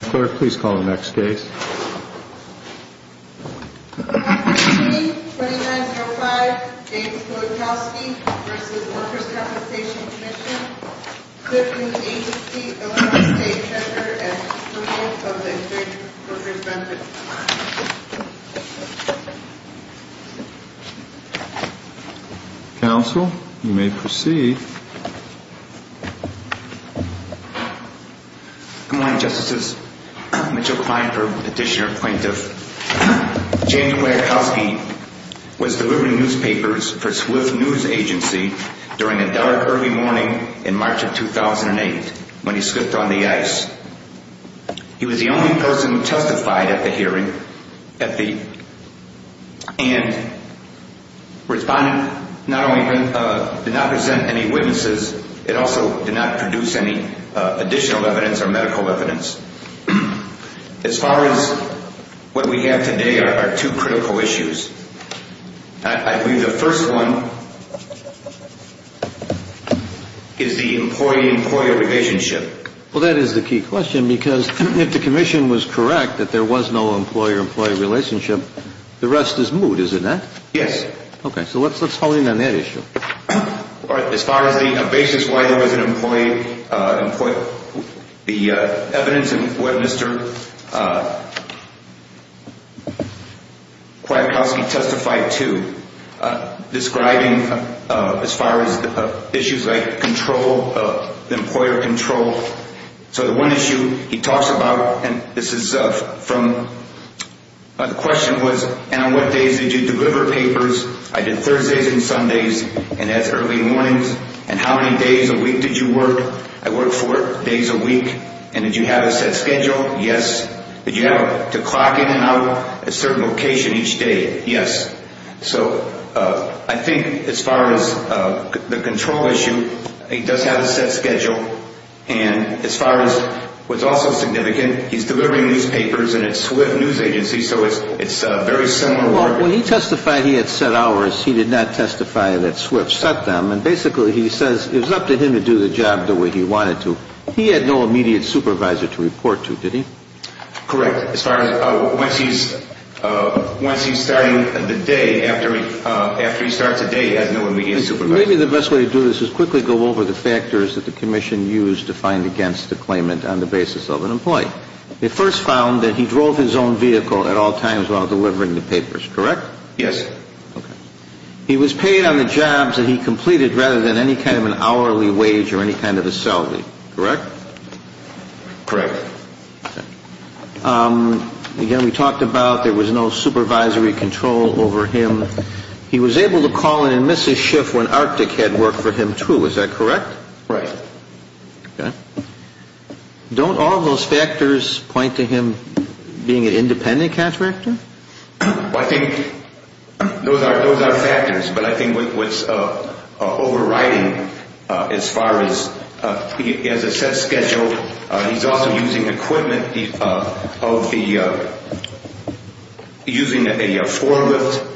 Clerk, please call the next case. Attorney, 2905, David Kwiatkowski v. Workers' Compensation Commission, Clifton Agency, Illinois State Treasurer and recipient of the Great Workers' Benefit. Counsel, you may proceed. Good morning, Justices. Mitchell Kleinberg, Petitioner-Appointive. James Kwiatkowski was delivering newspapers for Swift News Agency during a dark early morning in March of 2008 when he slipped on the ice. He was the only person who testified at the hearing and did not present any witnesses. It also did not produce any additional evidence or medical evidence. As far as what we have today are two critical issues. I believe the first one is the employee-employee relationship. Well, that is the key question because if the Commission was correct that there was no employer-employee relationship, the rest is moot, is it not? Yes. Okay, so let's hone in on that issue. As far as the basis why there was an employee-employee, the evidence in what Mr. Kwiatkowski testified to, describing as far as issues like control, employer control. So the one issue he talks about, and this is from, the question was, and on what days did you deliver papers? I did Thursdays and Sundays and as early mornings. And how many days a week did you work? I worked four days a week. And did you have a set schedule? Yes. Did you have to clock in and out a certain location each day? Yes. So I think as far as the control issue, he does have a set schedule. And as far as what's also significant, he's delivering newspapers, and it's SWIFT News Agency, so it's very similar work. Well, he testified he had set hours. He did not testify that SWIFT set them. And basically he says it was up to him to do the job the way he wanted to. He had no immediate supervisor to report to, did he? Correct. As far as once he's starting the day, after he starts a day, he has no immediate supervisor. Maybe the best way to do this is quickly go over the factors that the commission used to find against the claimant on the basis of an employee. They first found that he drove his own vehicle at all times while delivering the papers, correct? Yes. Okay. He was paid on the jobs that he completed rather than any kind of an hourly wage or any kind of a salary, correct? Correct. Okay. Again, we talked about there was no supervisory control over him. He was able to call in and miss his shift when Arctic had work for him too, is that correct? Right. Okay. Don't all those factors point to him being an independent contractor? Well, I think those are factors, but I think what's overriding as far as he has a set schedule, he's also using equipment, using a forklift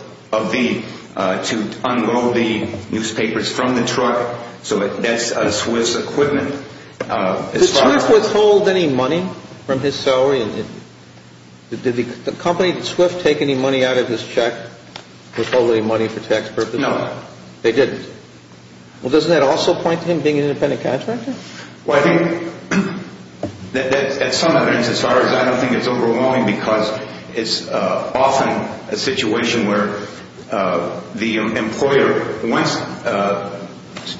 to unload the newspapers from the truck. So that's a SWIFT equipment. Did SWIFT withhold any money from his salary? Did the company, did SWIFT take any money out of his check, withhold any money for tax purposes? No. They didn't. Well, doesn't that also point to him being an independent contractor? Well, I think that's some evidence as far as I don't think it's overwhelming because it's often a situation where the employer wants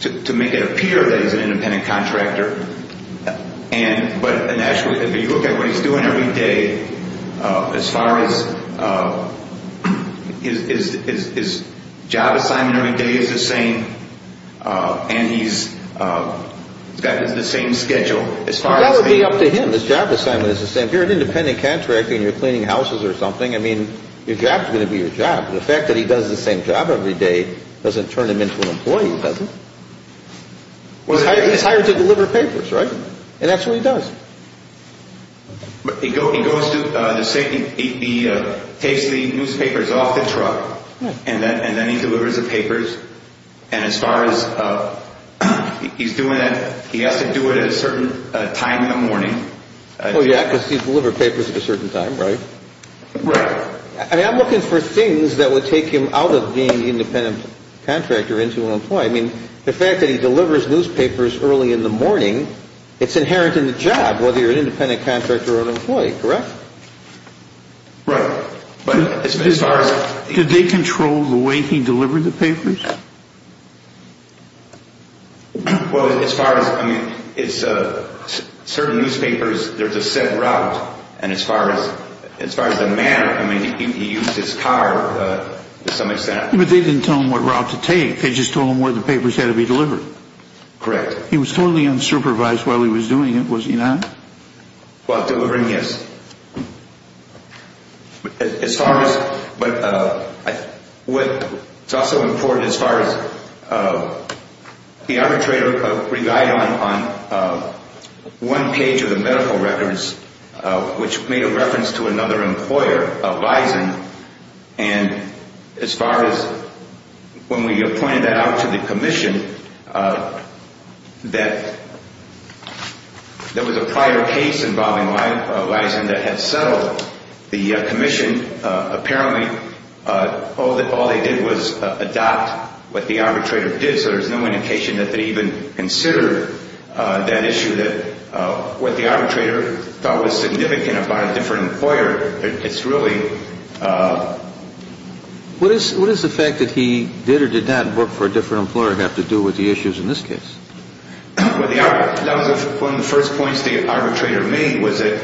to make it appear that he's an independent contractor, but if you look at what he's doing every day, as far as his job assignment every day is the same, and he's got the same schedule as far as being... That would be up to him. His job assignment is the same. If you're an independent contractor and you're cleaning houses or something, I mean, your job's going to be your job. The fact that he does the same job every day doesn't turn him into an employee, does it? He's hired to deliver papers, right? And that's what he does. He takes the newspapers off the truck, and then he delivers the papers, and as far as he's doing it, he has to do it at a certain time in the morning. Oh, yeah, because he's delivered papers at a certain time, right? Right. I mean, I'm looking for things that would take him out of being an independent contractor into an employee. I mean, the fact that he delivers newspapers early in the morning, it's inherent in the job, whether you're an independent contractor or an employee, correct? Right, but as far as... Did they control the way he delivered the papers? Well, as far as, I mean, certain newspapers, there's a set route, and as far as the manner, I mean, he used his car to some extent. But they didn't tell him what route to take. They just told him where the papers had to be delivered. Correct. He was totally unsupervised while he was doing it, was he not? While delivering, yes. As far as, but what's also important as far as the arbitrator, we relied on one page of the medical records, which made a reference to another employer, Bison, and as far as when we appointed that out to the commission, that there was a prior case involving Lison that had settled the commission. Apparently, all they did was adopt what the arbitrator did, so there's no indication that they even considered that issue, that what the arbitrator thought was significant about a different employer. It's really ‑‑ What is the fact that he did or did not work for a different employer have to do with the issues in this case? Well, that was one of the first points the arbitrator made was that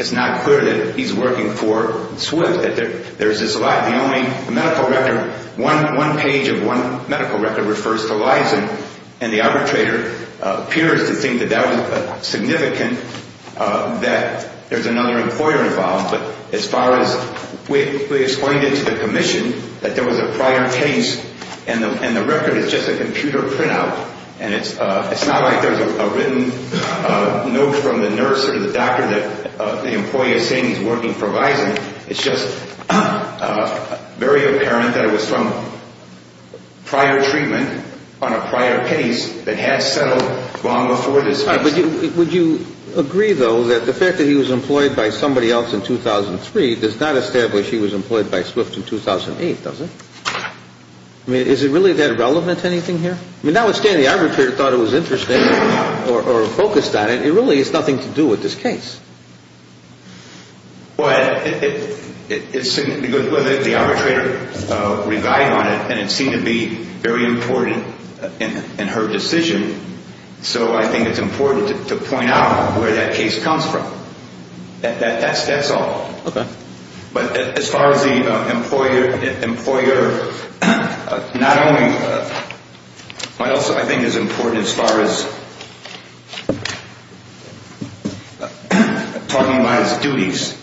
it's not clear that he's working for Swift. There's this line, the only medical record, one page of one medical record refers to Lison, and the arbitrator appears to think that that was significant, that there's another employer involved, but as far as we explained it to the commission, that there was a prior case, and the record is just a computer printout, and it's not like there's a written note from the nurse or the doctor that the employee is saying he's working for Lison. It's just very apparent that it was from prior treatment on a prior case that had settled long before this case. Would you agree, though, that the fact that he was employed by somebody else in 2003 does not establish he was employed by Swift in 2008, does it? I mean, is it really that relevant to anything here? Notwithstanding the arbitrator thought it was interesting or focused on it, it really has nothing to do with this case. But the arbitrator relied on it, and it seemed to be very important in her decision, so I think it's important to point out where that case comes from. That's all. Okay. And talking about his duties,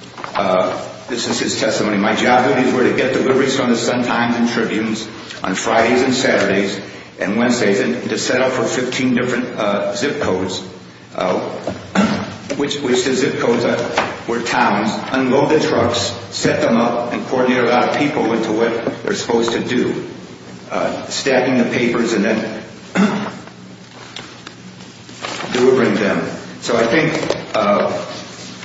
this is his testimony. My job duties were to get deliveries from the Sun Times and Tribunes on Fridays and Saturdays and Wednesdays and to set up for 15 different zip codes, which the zip codes were towns, unload the trucks, set them up, and coordinate a lot of people into what they're supposed to do, stacking the papers and then delivering them. So I think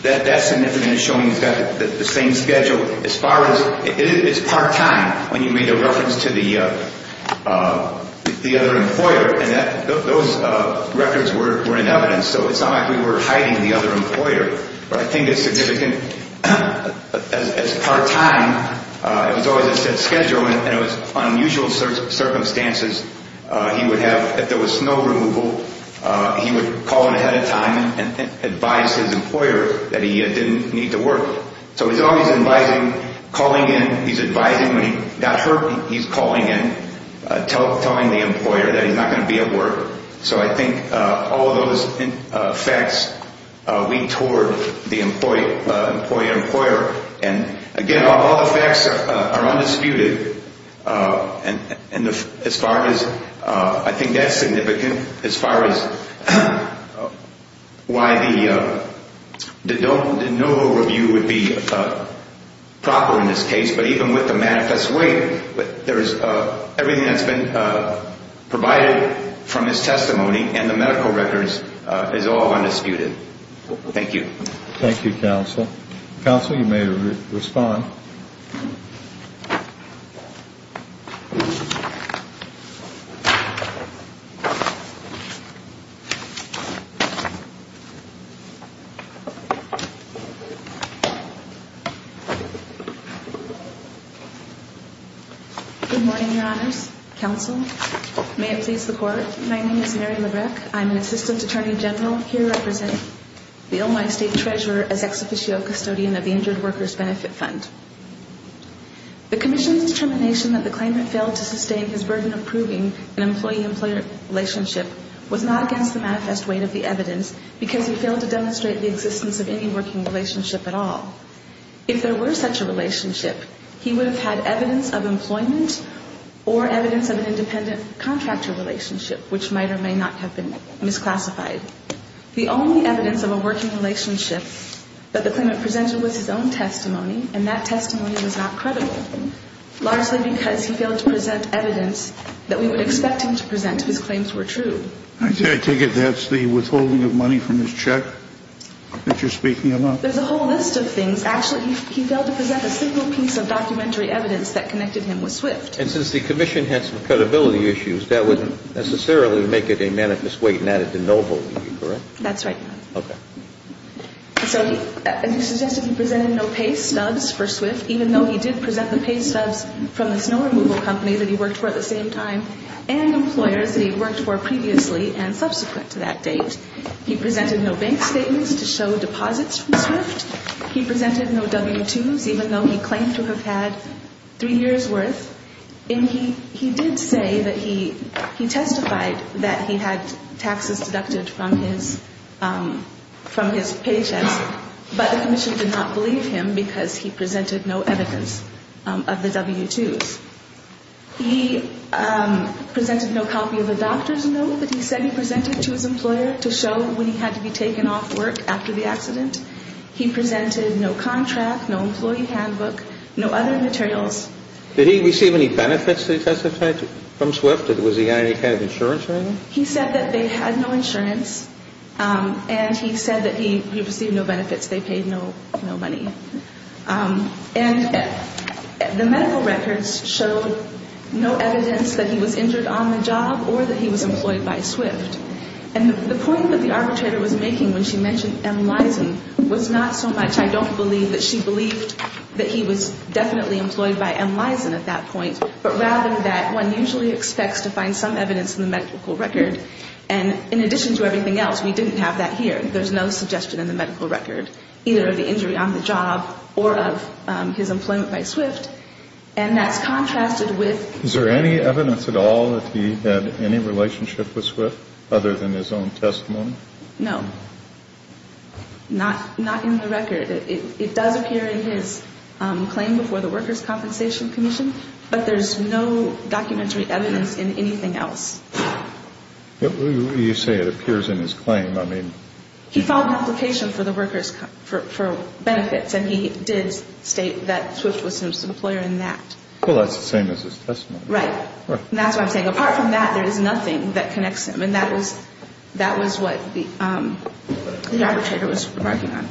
that's significant in showing he's got the same schedule. It's part-time when you made a reference to the other employer, and those records were in evidence, so it's not like we were hiding the other employer. But I think it's significant as part-time. It was always a set schedule, and it was unusual circumstances. If there was snow removal, he would call in ahead of time and advise his employer that he didn't need to work. So he's always advising, calling in. He's advising when he got hurt, he's calling in, telling the employer that he's not going to be at work. So I think all of those facts lead toward the employee-employer. And, again, all the facts are undisputed. And as far as I think that's significant as far as why no overview would be proper in this case, but even with the manifest weight, everything that's been provided from his testimony and the medical records is all undisputed. Thank you. Thank you, Counsel. Counsel, you may respond. Good morning, Your Honors. Counsel, may it please the Court, my name is Mary Labreck. I'm an Assistant Attorney General here representing the Illinois State Treasurer as Ex Officio Custodian of the Injured Workers Benefit Fund. The Commission's determination that the claimant failed to sustain his burden of proving an employee-employer relationship was not against the manifest weight of the evidence because he failed to demonstrate the existence of any working relationship at all. If there were such a relationship, he would have had evidence of employment or evidence of an independent contractor relationship, which might or may not have been misclassified. The only evidence of a working relationship that the claimant presented was his own testimony, and that testimony was not credible, largely because he failed to present evidence that we would expect him to present if his claims were true. I take it that's the withholding of money from his check that you're speaking about? There's a whole list of things. Actually, he failed to present a single piece of documentary evidence that connected him with SWIFT. And since the Commission had some credibility issues, that wouldn't necessarily make it a manifest weight and add it to no hold, would it? That's right. Okay. So he suggested he presented no pay stubs for SWIFT, even though he did present the pay stubs from the snow removal company that he worked for at the same time and employers that he worked for previously and subsequent to that date. He presented no bank statements to show deposits from SWIFT. He presented no W-2s, even though he claimed to have had three years' worth. And he did say that he testified that he had taxes deducted from his pay checks, but the Commission did not believe him because he presented no evidence of the W-2s. He presented no copy of a doctor's note that he said he presented to his employer to show when he had to be taken off work after the accident. He presented no contract, no employee handbook, no other materials. Did he receive any benefits that he testified to from SWIFT? Was he on any kind of insurance or anything? He said that they had no insurance, and he said that he received no benefits. They paid no money. And the medical records showed no evidence that he was injured on the job or that he was employed by SWIFT. And the point that the arbitrator was making when she mentioned M. Lison was not so much, I don't believe that she believed that he was definitely employed by M. Lison at that point, but rather that one usually expects to find some evidence in the medical record. And in addition to everything else, we didn't have that here. There's no suggestion in the medical record, either of the injury on the job or of his employment by SWIFT. And that's contrasted with the fact that he was employed by SWIFT. Did he have anything other than his own testimony? No. Not in the record. It does appear in his claim before the Workers' Compensation Commission, but there's no documentary evidence in anything else. You say it appears in his claim. I mean, he filed an application for the workers' benefits, and he did state that SWIFT was his employer in that. Well, that's the same as his testimony. Right. And that's what I'm saying. Apart from that, there is nothing that connects him. And that was what the arbitrator was remarking on.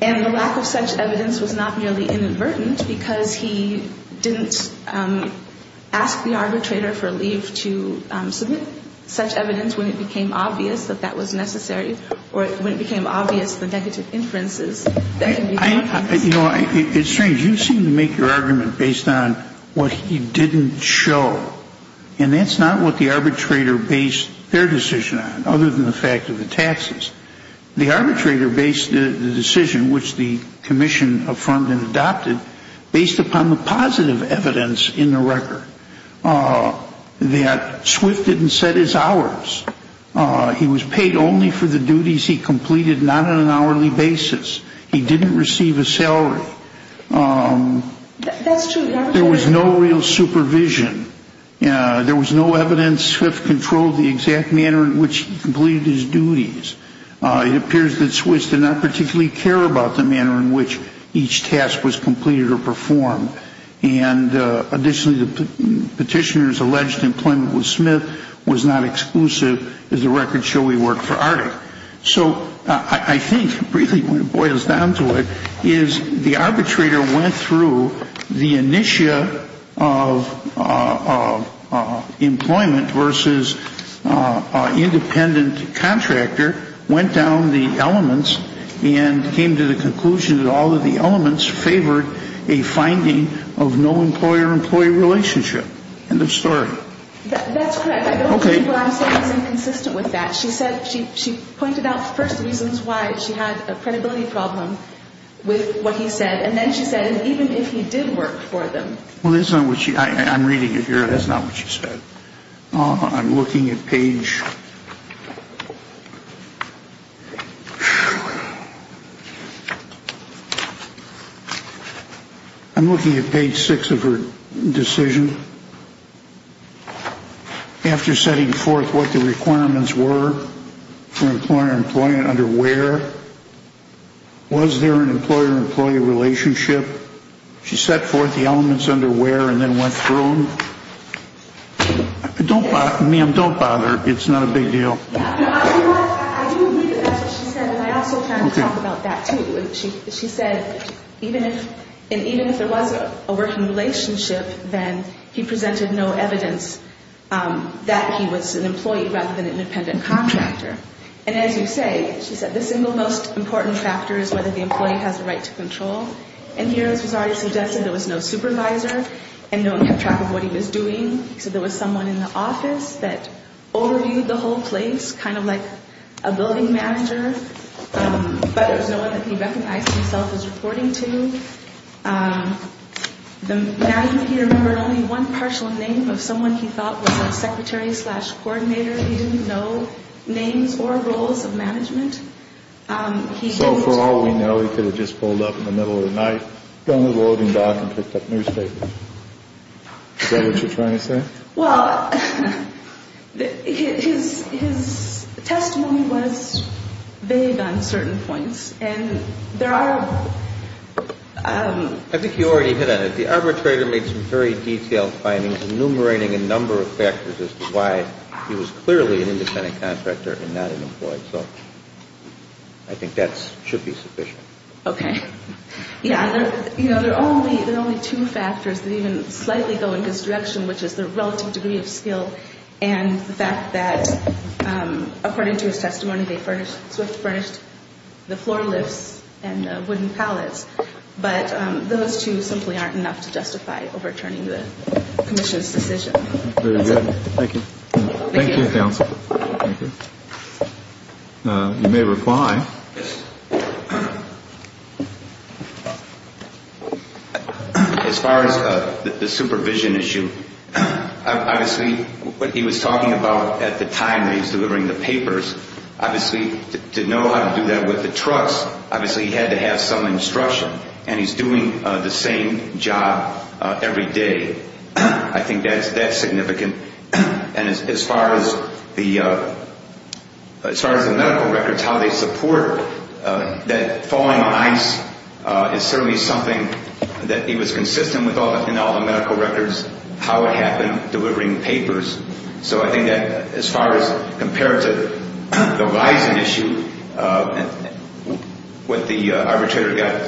And the lack of such evidence was not merely inadvertent because he didn't ask the arbitrator for leave to submit such evidence when it became obvious that that was necessary or when it became obvious the negative inferences that can be found. You know, it's strange. You seem to make your argument based on what he didn't show. And that's not what the arbitrator based their decision on, other than the fact of the taxes. The arbitrator based the decision, which the commission affirmed and adopted, based upon the positive evidence in the record that SWIFT didn't set his hours. He was paid only for the duties he completed, not on an hourly basis. He didn't receive a salary. That's true. There was no real supervision. There was no evidence SWIFT controlled the exact manner in which he completed his duties. It appears that SWIFT did not particularly care about the manner in which each task was completed or performed. And additionally, the petitioner's alleged employment with Smith was not exclusive. As the records show, he worked for Arctic. So I think, briefly, when it boils down to it, is the arbitrator went through the initia of employment versus independent contractor, went down the elements, and came to the conclusion that all of the elements favored a finding of no employer-employee relationship. End of story. That's correct. I don't think what I'm saying is inconsistent with that. She said she pointed out first reasons why she had a credibility problem with what he said, and then she said even if he did work for them. Well, that's not what she – I'm reading it here. That's not what she said. I'm looking at page – I'm looking at page 6 of her decision. After setting forth what the requirements were for employer-employee and under where, was there an employer-employee relationship? She set forth the elements under where and then went through them. Ma'am, don't bother. It's not a big deal. I didn't read it. That's what she said, and I also kind of talked about that, too. She said even if there was a working relationship, then he presented no evidence that he was an employee rather than an independent contractor. And as you say, she said the single most important factor is whether the employee has a right to control. And here it was already suggested there was no supervisor and no one kept track of what he was doing. So there was someone in the office that overviewed the whole place, kind of like a building manager, but there was no one that he recognized himself as reporting to. Now he remembered only one partial name of someone he thought was a secretary slash coordinator. He didn't know names or roles of management. So for all we know, he could have just pulled up in the middle of the night, gone to the loading dock and picked up newspapers. Is that what you're trying to say? Well, his testimony was vague on certain points, and there are... I think you already hit on it. The arbitrator made some very detailed findings enumerating a number of factors as to why he was clearly an independent contractor and not an employee. So I think that should be sufficient. Okay. Yeah, there are only two factors that even slightly go in his direction, which is the relative degree of skill and the fact that, according to his testimony, they swift furnished the floor lifts and the wooden pallets. But those two simply aren't enough to justify overturning the commission's decision. Very good. Thank you. Thank you, counsel. Thank you. You may reply. Yes. As far as the supervision issue, obviously what he was talking about at the time that he was delivering the papers, obviously to know how to do that with the trucks, obviously he had to have some instruction. And he's doing the same job every day. I think that's significant. And as far as the medical records, how they support that falling on ice is certainly something that he was consistent with in all the medical records, how it happened, delivering papers. So I think that as far as compared to the rising issue, what the arbitrator got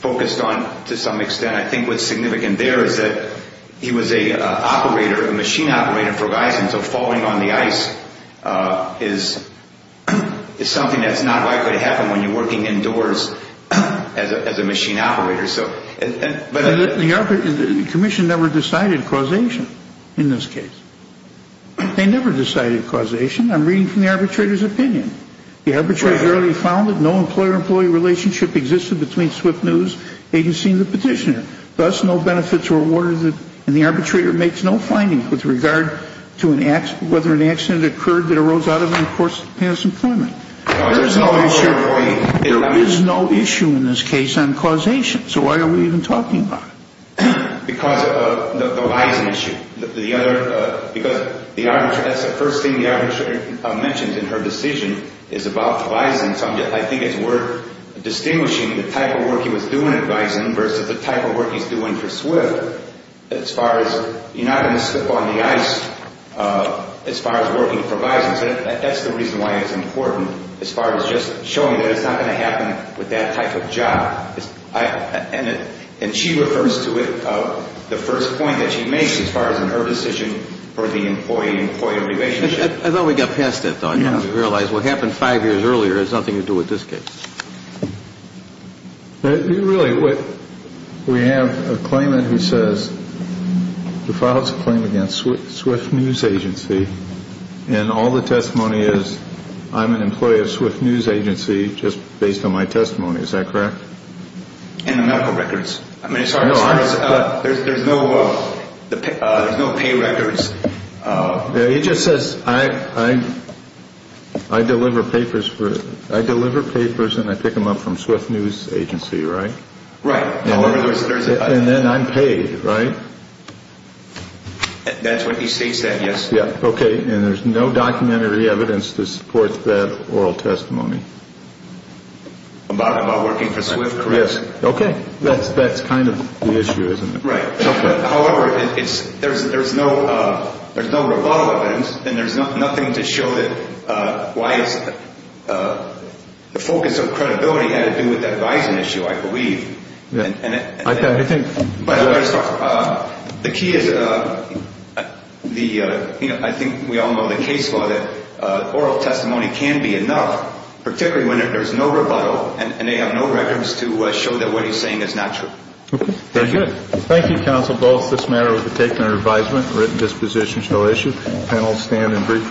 focused on to some extent, and I think what's significant there is that he was an operator, a machine operator, and so falling on the ice is something that's not likely to happen when you're working indoors as a machine operator. The commission never decided causation in this case. They never decided causation. I'm reading from the arbitrator's opinion. The arbitrator had already found that no employer-employee relationship existed between SWIFT News Agency and the petitioner, thus no benefits were awarded. And the arbitrator makes no findings with regard to whether an accident occurred that arose out of an enforced past employment. There is no issue in this case on causation. So why are we even talking about it? Because of the rising issue. Because that's the first thing the arbitrator mentioned in her decision is about the rising subject. I think it's worth distinguishing the type of work he was doing at Bison versus the type of work he's doing for SWIFT as far as you're not going to slip on the ice as far as working for Bison. That's the reason why it's important as far as just showing that it's not going to happen with that type of job. And she refers to it, the first point that she makes as far as in her decision for the employee-employee relationship. I thought we got past that, though. I didn't realize what happened five years earlier has nothing to do with this case. Really, we have a claimant who files a claim against SWIFT News Agency, and all the testimony is I'm an employee of SWIFT News Agency just based on my testimony. Is that correct? And the medical records. There's no pay records. He just says I deliver papers and I pick them up from SWIFT News Agency, right? Right. And then I'm paid, right? That's when he states that, yes. Okay, and there's no documentary evidence to support that oral testimony. About working for SWIFT, correct? Okay, that's kind of the issue, isn't it? Right. However, there's no rebuttal evidence, and there's nothing to show that why the focus of credibility had to do with that bison issue, I believe. The key is I think we all know the case for that oral testimony can be enough, particularly when there's no rebuttal, and they have no records to show that what he's saying is not true. Okay, thank you. Thank you, Counsel Bowles. This matter was taken under advisement. Written disposition shall issue. Panel stand and brief recess.